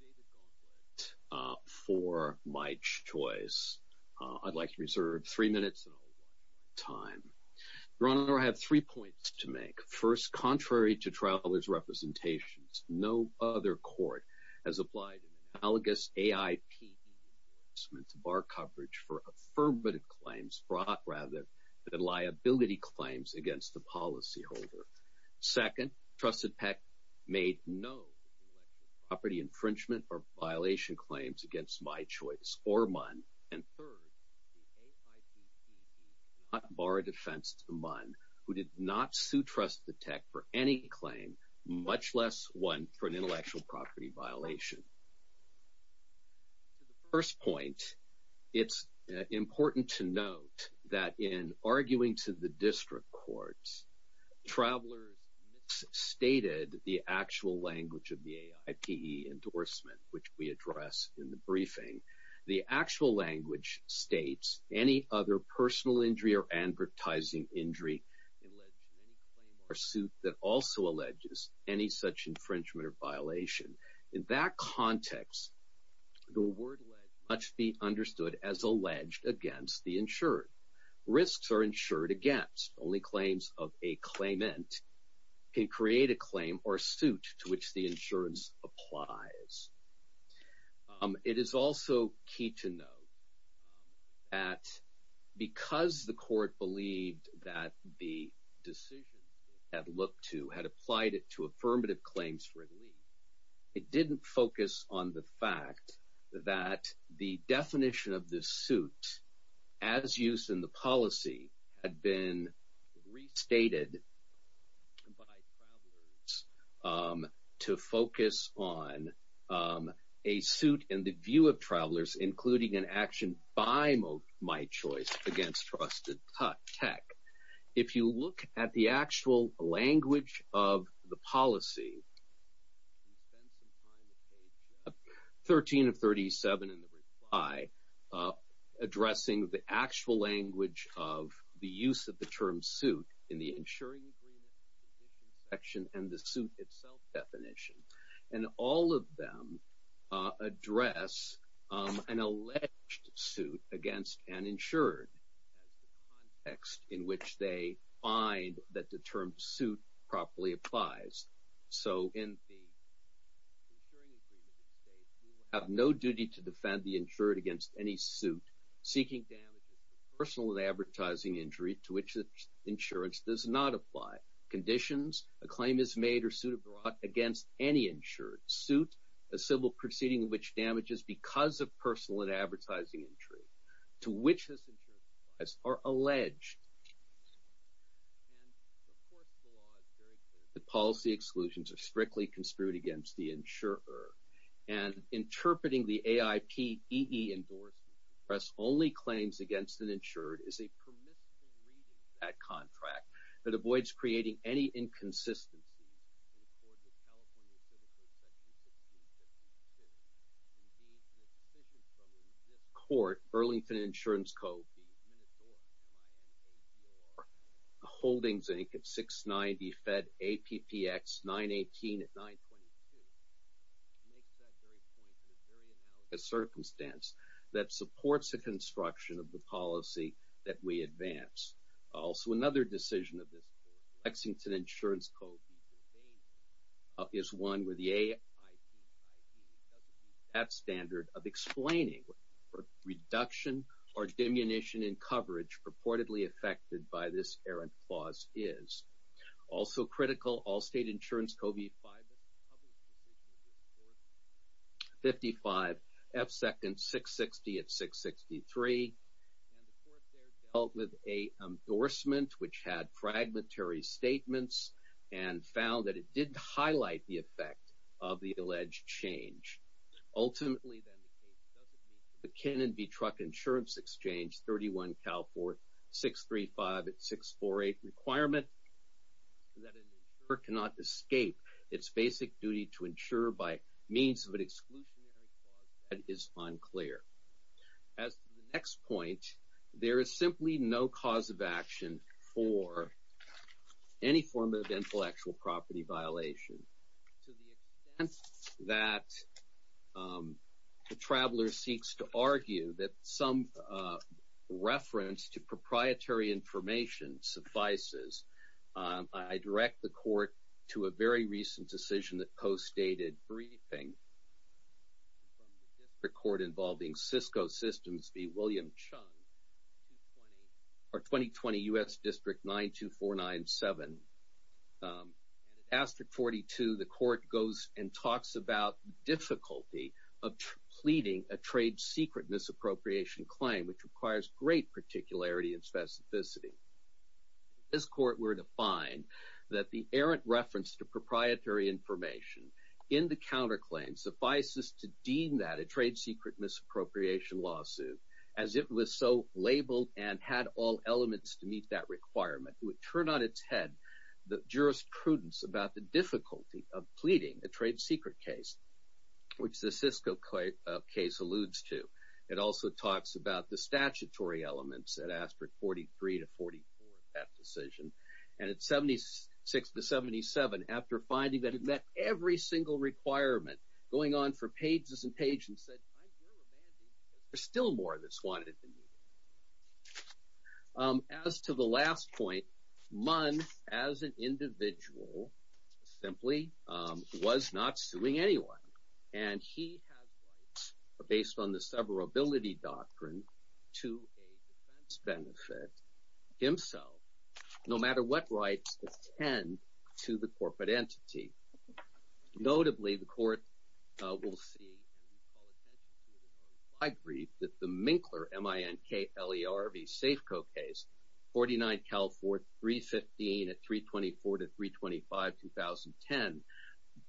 David Gauntlett, for My Choice. I'd like to reserve three minutes and one time. Your Honor, I have three points to make. First, contrary to Travelers' representations, no other court has applied an analogous AIPD enforcement to bar coverage for affirmative claims brought rather than liability claims against the policyholder. Second, Trusted Tech made no intellectual property infringement or violation claims against My Choice or MUN. And third, the AIPD did not bar a defense to MUN, who did not sue Trusted Tech for any claim, much less one for an intellectual property violation. To the first point, it's important to note that in arguing to the district courts, Travelers misstated the actual language of the AIPD endorsement, which we address in the briefing. The actual language states, any other personal injury or advertising injury alleged in any claim or suit that also alleges any such infringement or violation. In that context, the word alleged must be understood as alleged against the insured. Risks are insured against. Only claims of a claimant can create a claim or suit to which the insurance applies. It is also key to note that because the court believed that the decisions it had looked to had applied it to affirmative claims relief, it didn't focus on the fact that the definition of this suit, as used in the policy, had been restated by Travelers to focus on a suit in the view of Travelers, including an action by My Choice against Trusted Tech. If you look at the actual language of the policy, you spend some time at page 13 of 37 in the reply addressing the actual language of the use of the term suit in the insuring agreement, the condition section, and the suit itself definition. And all of them address an alleged suit against an insured as the context in which they find that the term suit properly applies. So in the insuring agreement, it states, you have no duty to defend the insured against any suit seeking damages for personal and advertising injury to which the insurance does not apply. Conditions, a claim is made or suit is brought against any insured. Suit, a civil proceeding in which damages because of personal and advertising injury to which this insurance applies are alleged. And of course, the law is very clear that policy exclusions are strictly construed against the insurer. And interpreting the AIP-EE endorsement, press only claims against an insured is a permissible reading of that contract that avoids creating any inconsistencies in the California Civil Code Section 1652. Indeed, the decision from this court, Burlington Insurance Code, the Minotaur, the Holdings Inc. at 690, Fed APPX 918 at 922, makes that very point in a very analogous circumstance that supports the construction of the policy that we advance. Also, another decision of this court, Lexington Insurance Code, is one where the AIP-EE doesn't meet that standard of explaining for reduction or diminution in coverage purportedly affected by this errant clause is. Also critical, Allstate Insurance Code v. 5, this public decision of this court, 55 F Second 660 at 663. And the court there dealt with a endorsement which had fragmentary statements and found that it didn't highlight the effect of the alleged change. Ultimately, then, the case doesn't meet the Kenan v. Truck Insurance Exchange 31 Cal Fort 635 at 648 requirement that an insurer cannot escape its basic duty to insure by means of an exclusionary clause that is unclear. As to the next point, there is simply no cause of action for any form of intellectual property violation. To the extent that the traveler seeks to argue that some reference to proprietary information suffices, I direct the court to a very recent decision that co-stated briefing from the district court involving Cisco Systems v. William Chung, 2020 U.S. District 92497. And at Aster 42, the court goes and talks about difficulty of pleading a trade secret misappropriation claim, which requires great particularity and specificity. This court were to find that the errant reference to proprietary information in the counterclaim suffices to deem that a trade secret misappropriation lawsuit, as it was so labeled and had all elements to meet that requirement, would turn on its head the jurisprudence about the difficulty of pleading a trade secret case, which the Cisco case alludes to. It also talks about the statutory elements at Aster 43 to 44, that decision. And at 76 to 77, after finding that it met every single requirement, going on for pages and pages and said, I'm here remanding because there's still more that's wanted than needed. As to the last point, Munn, as an individual, simply was not suing anyone. And he has rights based on the severability doctrine to a defense benefit himself, no matter what rights attend to the corporate entity. Notably, the court will see, and call attention to, my brief that the Minkler, M-I-N-K-L-E-R-V, Safeco case, 49 California 315 at 324 to 325, 2010,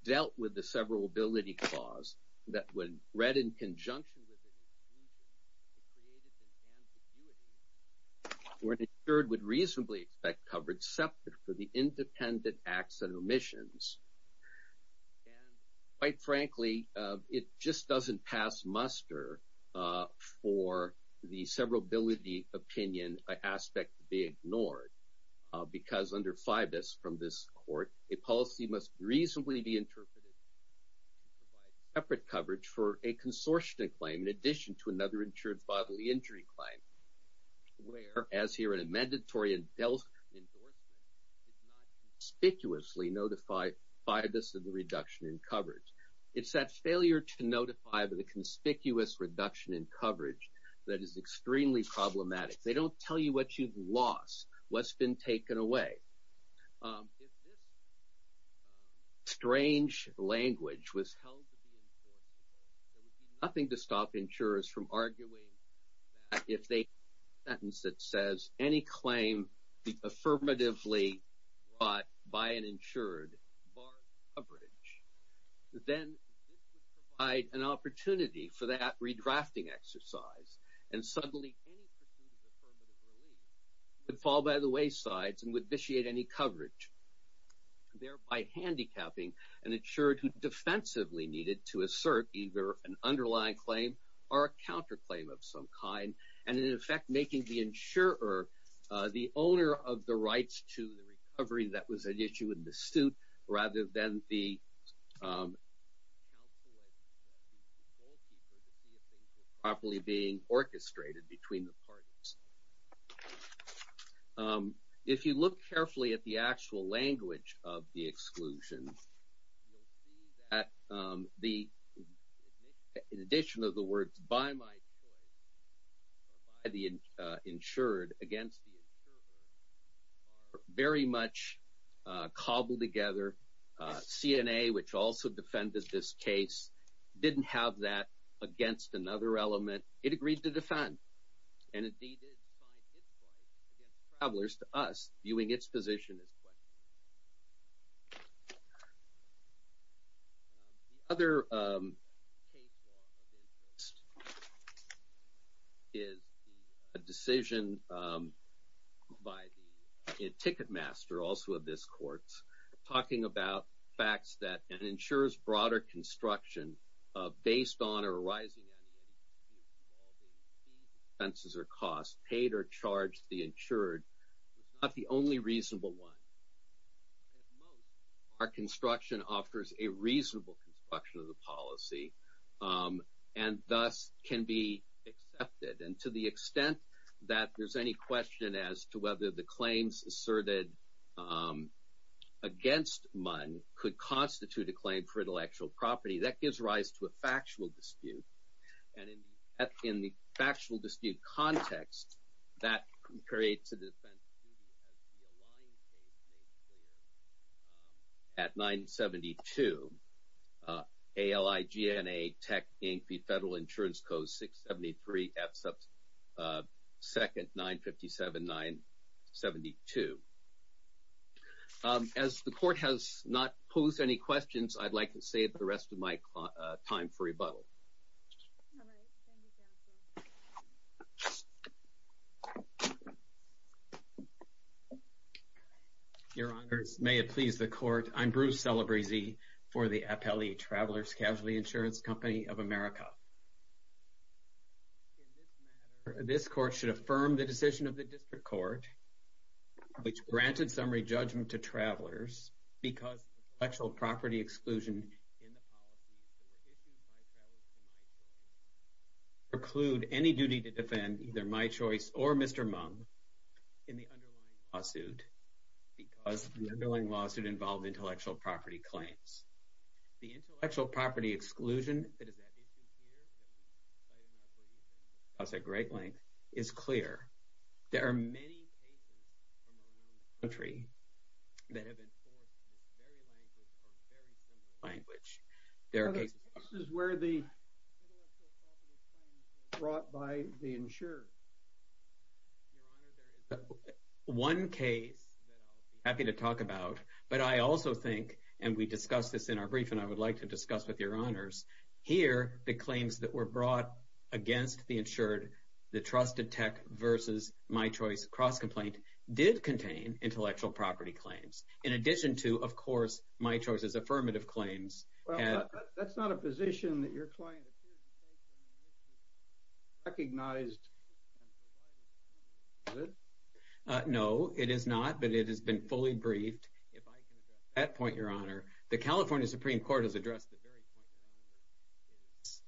dealt with the severability clause that when read in conjunction with an infusion, it created an ambiguity where an insured would reasonably expect coverage separate for the independent acts and omissions. And quite frankly, it just doesn't pass muster for the severability opinion, an aspect to be ignored. Because under FIBUS from this court, a policy must reasonably be interpreted to provide separate coverage for a consortium claim in addition to another insured bodily injury claim. Where, as here in a mandatory and dealt endorsement, did not conspicuously notify FIBUS of the reduction in coverage. It's that failure to notify of the conspicuous reduction in coverage that is extremely problematic. They don't tell you what you've lost, what's been taken away. If this strange language was held to be enforceable, there would be nothing to stop insurers from arguing that if they have a sentence that says, any claim affirmatively brought by an insured bars coverage. Then this would provide an opportunity for that redrafting exercise. And suddenly, any pursuit of affirmative relief would fall by the wayside and would vitiate any coverage. Thereby handicapping an insured who defensively needed to assert either an underlying claim or a counterclaim of some kind. And in effect, making the insurer the owner of the rights to the recovery that was an issue rather than the properly being orchestrated between the parties. If you look carefully at the actual language of the exclusion, you'll see that the addition of the words by my insured against the very much cobbled together. CNA, which also defended this case, didn't have that against another element. It agreed to defend. And indeed, it did find its place against travelers to us viewing its position as quite. Other is a decision. By the ticket master, also of this courts talking about facts that ensures broader construction based on or rising. Fences are cost paid or charged. The insured is not the only reasonable one. Our construction offers a reasonable construction of the policy. And thus can be accepted. And to the extent that there's any question as to whether the claims asserted against mine could constitute a claim for intellectual property, that gives rise to a factual dispute. And in the actual dispute context, that creates a defense. At 972 ALI, GNA tech, Inc. The federal insurance code, 673. Second, 957, 972. As the court has not posed any questions, I'd like to save the rest of my time for rebuttal. Your honors, may it please the court. I'm Bruce Celebrezze for the appellee travelers, casualty insurance company of America. This court should affirm the decision of the district court, which granted summary judgment to travelers because actual property exclusion preclude any duty to defend either my choice or Mr. Mung in the underlying lawsuit, because the underlying lawsuit involved intellectual property claims, the intellectual property exclusion. I'll say great length is clear. There are many entry that have been language. There are cases where the brought by the insurer. Your honor, there is one case that I'll be happy to talk about, but I also think, and we discussed this in our brief and I would like to discuss with your honors here. The claims that were brought against the insured, the trusted tech versus my choice cross complaint did contain intellectual property claims. In addition to, of course, my choice is affirmative claims. That's not a position that your client recognized. No, it is not, but it has been fully briefed. If I can address that point, your honor, the California Supreme court has addressed the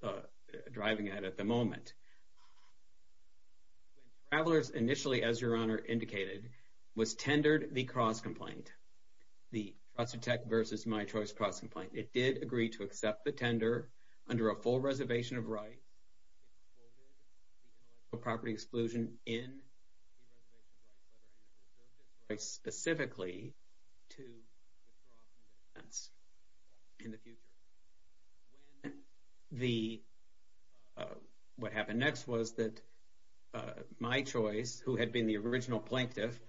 very point driving at, at the moment travelers initially, as your honor indicated, was tendered. The cross complaint, the trusted tech versus my choice cross complaint. It did agree to accept the tender under a full resolution. The reservation of rights, property exclusion in specifically to in the future. The, uh, what happened next was that, uh, my choice who had been the original plaintiff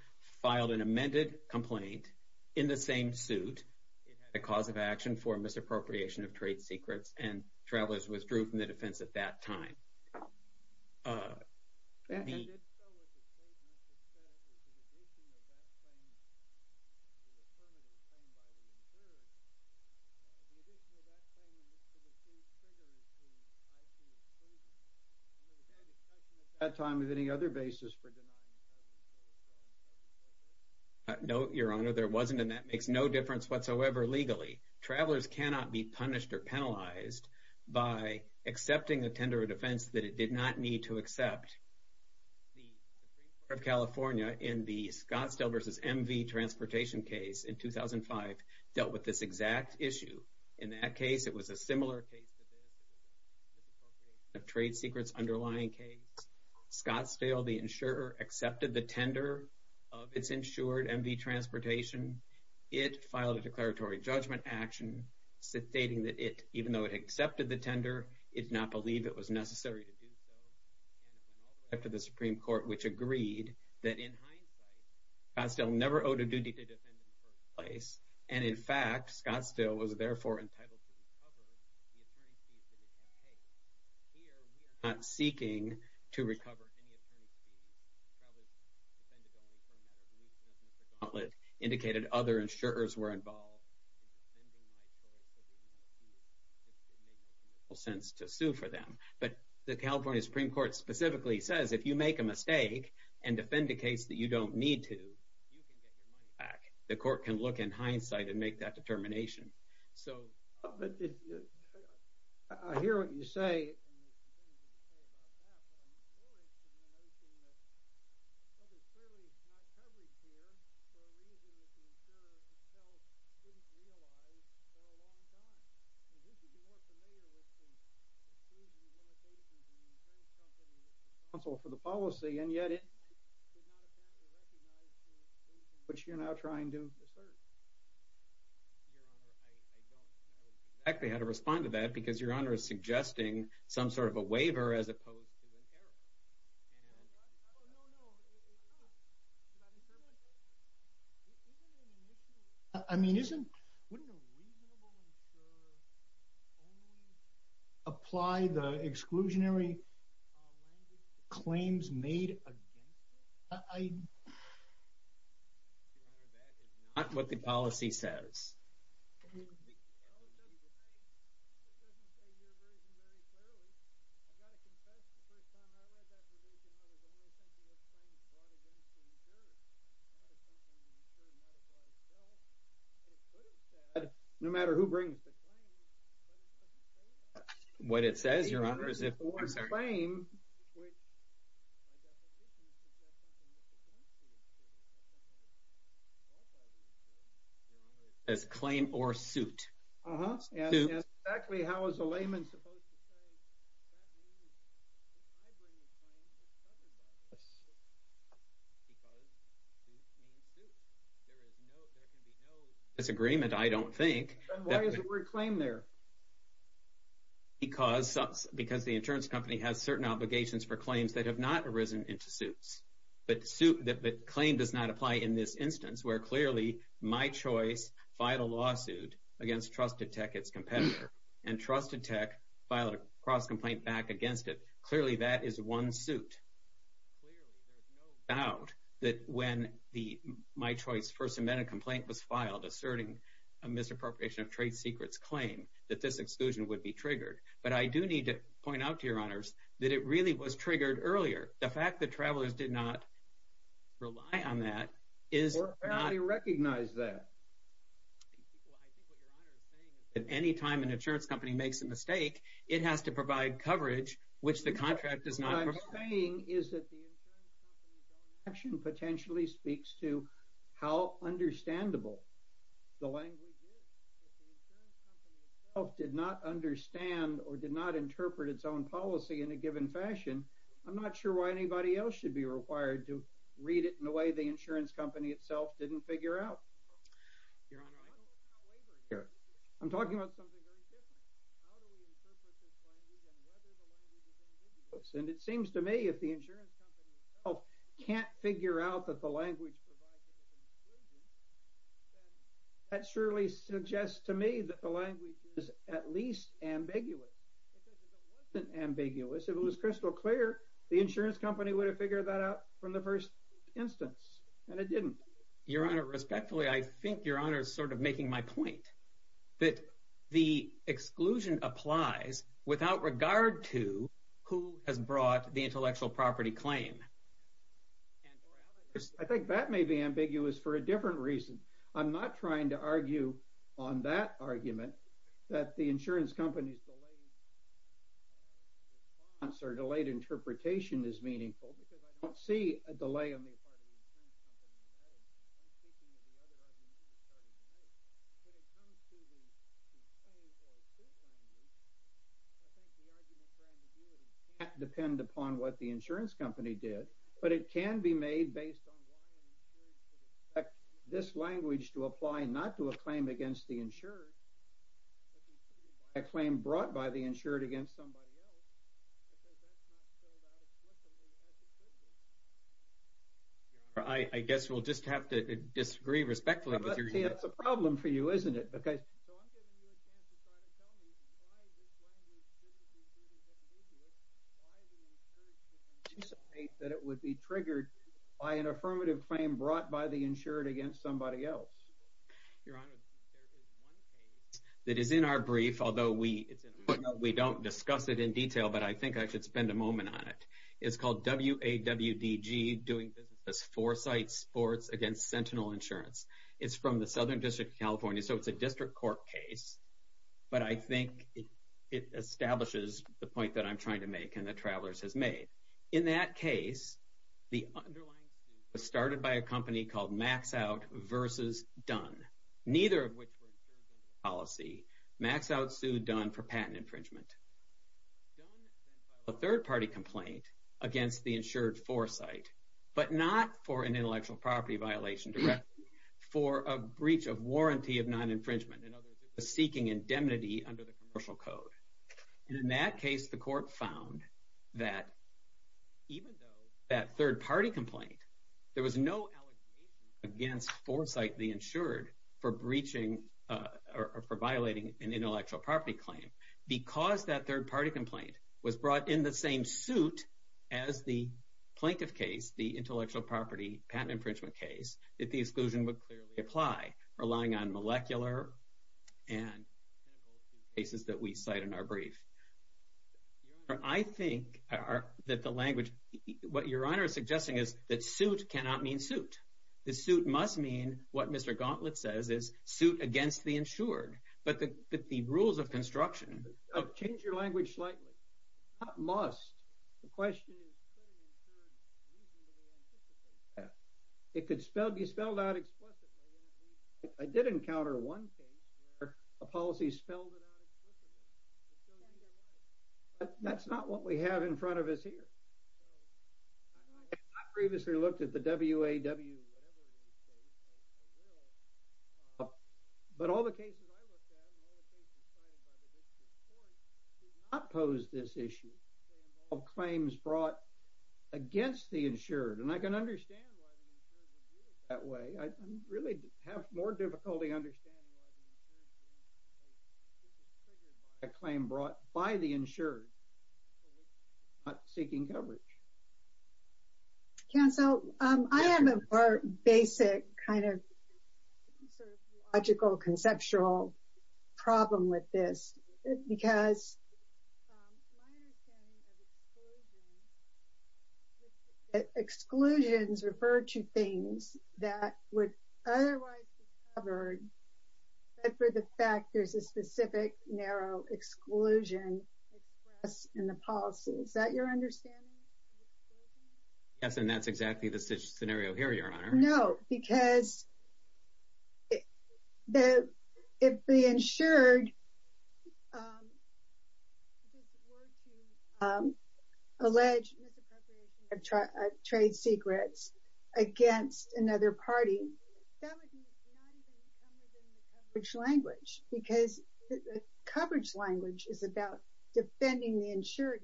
filed an amended complaint in the same suit. It had a cause of action for misappropriation of trade secrets and travelers withdrew from the defense at that time. Uh, the time of any other basis for denying. No, your honor, there wasn't. And that makes no difference whatsoever. Legally travelers cannot be punished or penalized. By accepting a tender of defense that it did not need to accept California in the Scottsdale versus MV transportation case in 2005 dealt with this exact issue. In that case, it was a similar case to this trade secrets underlying case, Scottsdale, the insurer accepted the tender of its insured MV transportation. It filed a declaratory judgment action. So stating that it, even though it accepted the tender, it's not believe it was necessary to do so. After the Supreme court, which agreed that in hindsight, I still never owed a duty to defend in the first place. And in fact, Scottsdale was therefore entitled to recover. I'm seeking to recover. Indicated other insurers were involved. It makes no sense to sue for them, but the California Supreme court specifically says, if you make a mistake and defend a case that you don't need to, you can get your money back. The court can look in hindsight and make that determination. So I hear what you say. This is more familiar with the counsel for the policy. And yet it, but you're not trying to actually had to respond to that because your honor is suggesting some sort of a waiver as opposed to an error. I mean, isn't apply the exclusionary claims made what the policy says. No matter who brings what it says, your honor is if claim or suit actually, how is the layman supposed to say it's agreement. I don't think claim there because, because the insurance company has certain obligations for claims that have not arisen into suits, but suit that claim does not apply in this instance where clearly my choice, vital lawsuit against trusted tech, its competitor and trusted tech filed a cross complaint back against it. Clearly that is one suit. There's no doubt that when the, my choice first amendment complaint was filed, asserting a misappropriation of trade secrets claim that this exclusion would be triggered. But I do need to point out to your honors that it really was triggered earlier. The fact that travelers did not rely on that is recognize that at any time. An insurance company makes a mistake. It has to provide coverage, which the contract does not. What I'm saying is that the potentially speaks to how understandable the language did not understand or did not interpret its own policy in a given fashion. I'm not sure why anybody else should be required to read it in a way. The insurance company itself didn't figure out I'm talking about something very different. And it seems to me if the insurance company can't figure out that the language that surely suggests to me that the language is at least ambiguous ambiguous. If it was crystal clear, the insurance company would have figured that out from the first instance and it didn't. Your honor respectfully, I think your honor is sort of making my point that the exclusion applies without regard to who has brought the intellectual property claim. I think that may be ambiguous for a different reason. I'm not trying to argue on that argument that the insurance companies delay response or delayed interpretation is meaningful because I don't see a delay on the part of the insurance company in that argument. I'm speaking of the other argument you started to make. When it comes to the claim or the proof language, I think the argument for ambiguity can't depend upon what the insurance company did, but it can be made based on why an insurer should expect this language to apply not to a claim against the insurer, a claim brought by the insured against somebody else. I guess we'll just have to disagree respectfully. That's a problem for you, isn't it? Because that it would be triggered by an affirmative claim brought by the insured against somebody else. Your honor, there is one case that is in our brief, although we, we don't discuss it in detail, but I think I should spend a moment on it. It's called W A W D G doing business as foresight sports against Sentinel insurance. It's from the Southern district of California. So it's a district court case, but I think it establishes the point that I'm trying to make and that travelers has made in that case, the underlying suit was started by a company called max out versus done. Neither of which were policy max out sued done for patent infringement third party complaint against the insured foresight, but not for an intellectual property violation direct for a breach of warranty of non-infringement and others seeking indemnity under the commercial code. And in that case, the court found that even though that third party complaint, there was no allegations against foresight, the insured for breaching or for violating an intellectual property claim because that third party complaint was brought in the same suit as the plaintiff case, the intellectual property, patent infringement case that the exclusion would clearly apply relying on molecular and cases that we cite in our brief. I think that the language, what your honor is suggesting is that suit cannot mean suit. The suit must mean what Mr. Gauntlet says is suit against the insured, but the, but the rules of construction, change your language slightly must. The question is, it could spell be spelled out explicitly. I did encounter one case where a policy spelled it out. That's not what we have in front of us here. I previously looked at the WAW, but all the cases I looked at, not pose this issue of claims brought against the insured. And I can understand that way. I really have more difficulty understanding. A claim brought by the insured, seeking coverage. Cancel. I am a basic kind of logical conceptual problem with this because exclusions referred to things that would otherwise be covered. For the fact there's a specific narrow exclusion in the policy. Is that your understanding? Yes. And that's exactly the scenario here, your honor. No, because if the insured alleged misappropriation of trade secrets against another party, which language, because the coverage language is about defending the insured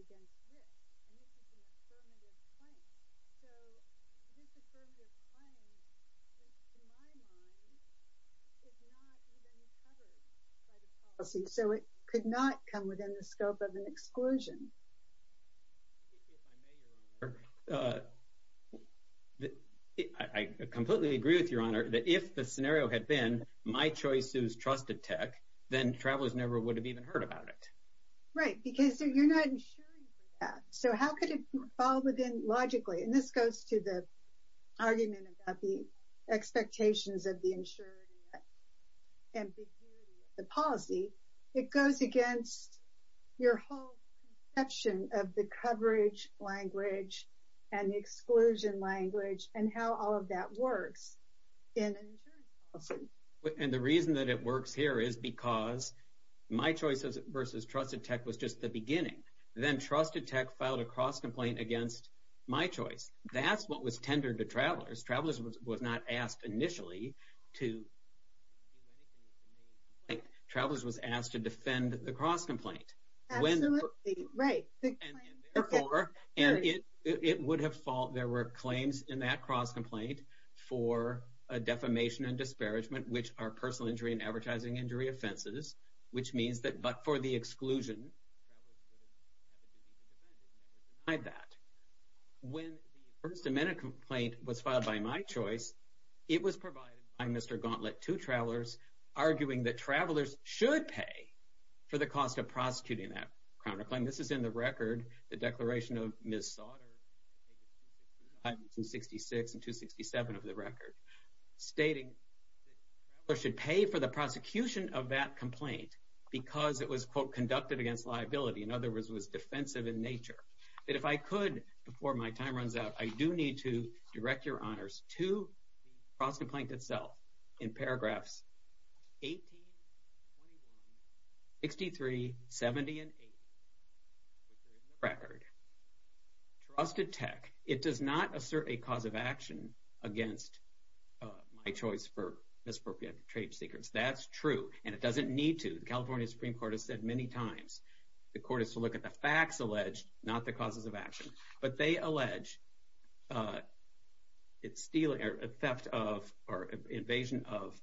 against. So it could not come within the scope of an exclusion. If I may, your honor, I completely agree with your honor that if the scenario had been, my choice is trusted tech, then travelers never would have even heard about it. Right. Because you're not insuring for that. So how could it fall within logically? And this goes to the argument about the expectations of the insured and the policy. It goes against your whole section of the coverage language and the exclusion language and how all of that works. And the reason that it works here is because my choices versus trusted tech was just the beginning. Then trusted tech filed a cross complaint against my choice. That's what was tendered to travelers. Travelers was not asked initially to do anything. Travelers was asked to defend the cross complaint. Right. And it would have fault. There were claims in that cross complaint for a defamation and disparagement, which are personal injury and advertising injury offenses, which means that, but for the exclusion I bet when the first amendment complaint was filed by my choice, it was provided by Mr. Gauntlet to travelers arguing that travelers should pay for the cost of prosecuting that counterclaim. This is in the record, the declaration of Ms. Sauter. I'm in 66 and two 67 of the record stating or should pay for the prosecution of that complaint because it was quote conducted against liability. In other words, it was defensive in nature that if I could, before my time runs out, I do need to direct your honors to the cross complaint itself in paragraphs 18, 63, 70 and eight record trusted tech. It does not assert a cause of action against my choice for misappropriated trade secrets. That's true. And it doesn't need to. The California Supreme court has said many times, the court is to look at the facts alleged, not the causes of action, but they allege it's stealing or theft of or invasion of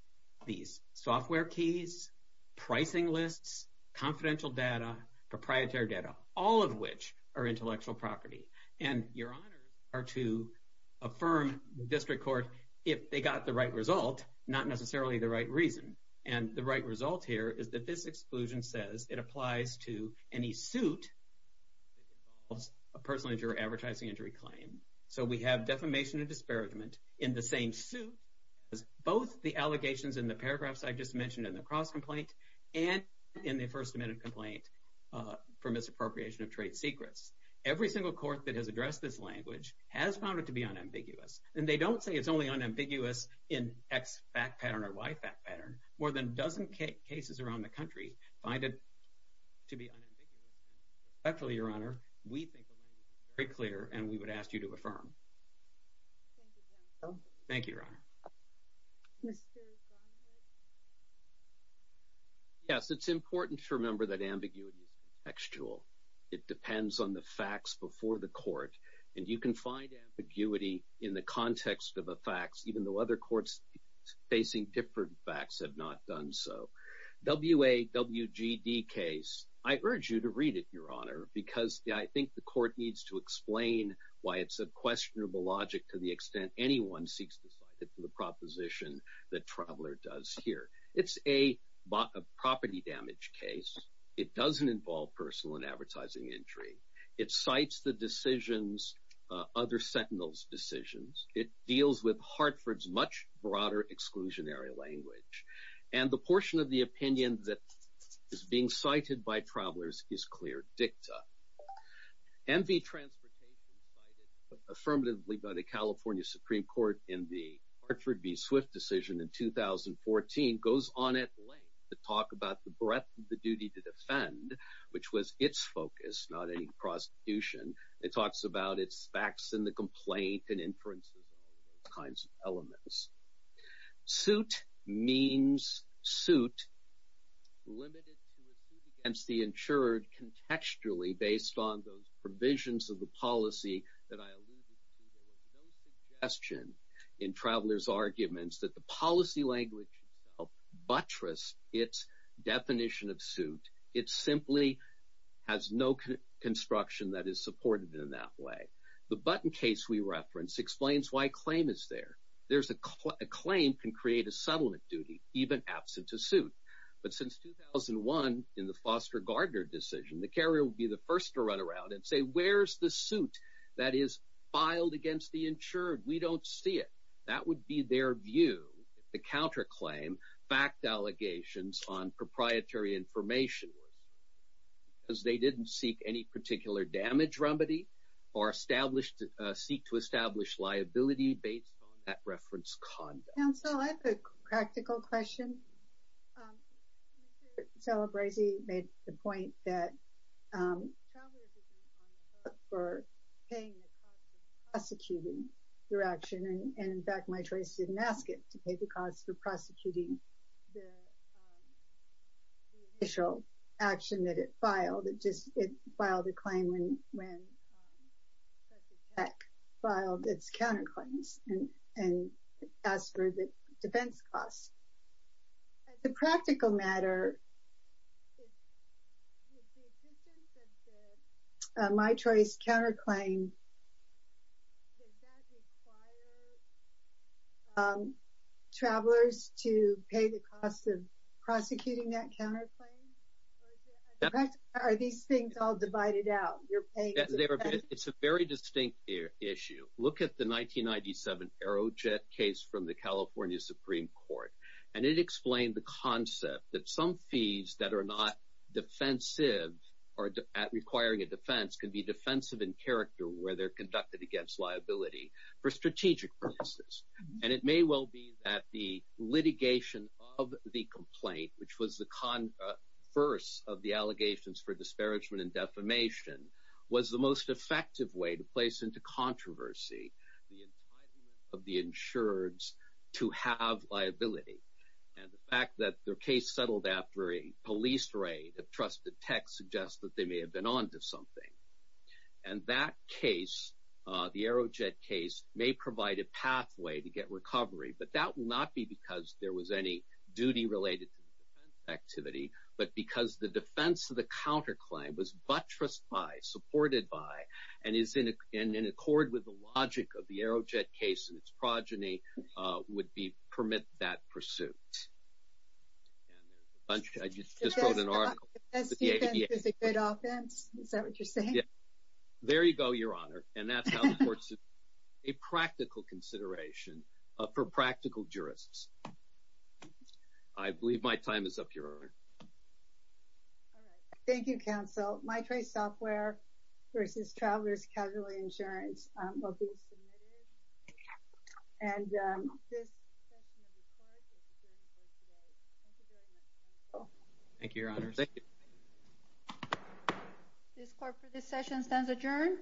these software keys, pricing lists, confidential data, proprietary data, all of which are intellectual property. And your honors are to affirm district court if they got the right result, not necessarily the right reason. And the right result here is that this exclusion says it applies to any suit that involves a personal injury or advertising injury claim. So we have defamation and disparagement in the same suit as both the allegations in the paragraphs I just mentioned in the cross complaint and in the first amendment complaint for misappropriation of trade secrets. Every single court that has addressed this language has found it to be unambiguous. And they don't say it's only unambiguous in X fact pattern or Y fact pattern more than dozen cases around the country find it to be unambiguous. Actually your honor, we think very clear and we would ask you to affirm. Thank you. Yes, it's important to remember that ambiguity is textual. It depends on the facts before the court and you can find ambiguity in the context of a facts, even though other courts facing different facts have not done so. W a W G D case. I urge you to read it, your honor, because I think the court needs to explain why it's a questionable logic to the extent anyone seeks to cite it for the proposition that traveler does here. It's a property damage case. It doesn't involve personal and advertising injury. It cites the decisions, other Sentinels decisions. It deals with Hartford's much broader exclusionary language and the portion of the opinion that is being cited by travelers is clear. Dicta MV transportation, affirmatively by the California Supreme court in the Hartford v. Swift decision in 2014 goes on at length to talk about the breadth of the duty to defend, which was its focus, not any prosecution. It talks about its facts in the complaint and inferences, all those kinds of elements. Suit means suit limited to a suit against the insured contextually based on those provisions of the policy that I alluded to. There was no suggestion in travelers arguments that the policy language itself buttress its definition of suit. It's simply has no construction that is supported in that way. The button case we reference explains why claim is there. There's a claim can create a settlement duty, even absent a suit, but since 2001 in the foster Gardner decision, the carrier will be the first to run around and say, where's the suit that is filed against the insured? We don't see it. That would be their view. The counter claim, fact allegations on proprietary information was because they didn't seek any particular damage remedy or established a seat to establish liability based on that reference. So I have a practical question. So Bracey made the point that for paying the cost of prosecuting your action. And in fact, my choice didn't ask it to pay the cost for prosecuting the initial action that it filed. It just filed a claim when, especially tech filed its counter claims and, and as for the defense costs as a practical matter, my choice counter claim, travelers to pay the cost of prosecuting that counter claim. Are these things all divided out? It's a very distinct issue. Look at the 1997 arrow jet case from the California Supreme court. And it explained the concept that some fees that are not defensive or at requiring a defense can be defensive in character where they're conducted against liability for strategic purposes. And it may well be that the litigation of the complaint, which was the con first of the allegations for disparagement and defamation was the most effective way to place into controversy the entitlement of the insureds to have liability. And the fact that their case settled after a police raid of trusted tech suggests that they may have been onto something. And that case, the arrow jet case may provide a pathway to get recovery, but that will not be because there was any duty related to the defense activity, but because the defense of the counter claim was buttressed by supported by, and is in a, in an accord with the logic of the arrow jet case and its progeny would be permit that pursuit. And there's a bunch of, I just just wrote an article. It's a good offense. Is that what you're saying? There you go. Your honor. And that's a practical consideration for practical jurists. I believe my time is up your honor. All right. Thank you. Counsel my trace software versus travelers, casualty insurance will be submitted and this session of the court. Thank you. Your honor. Thank you. This corporate, this session stands adjourned.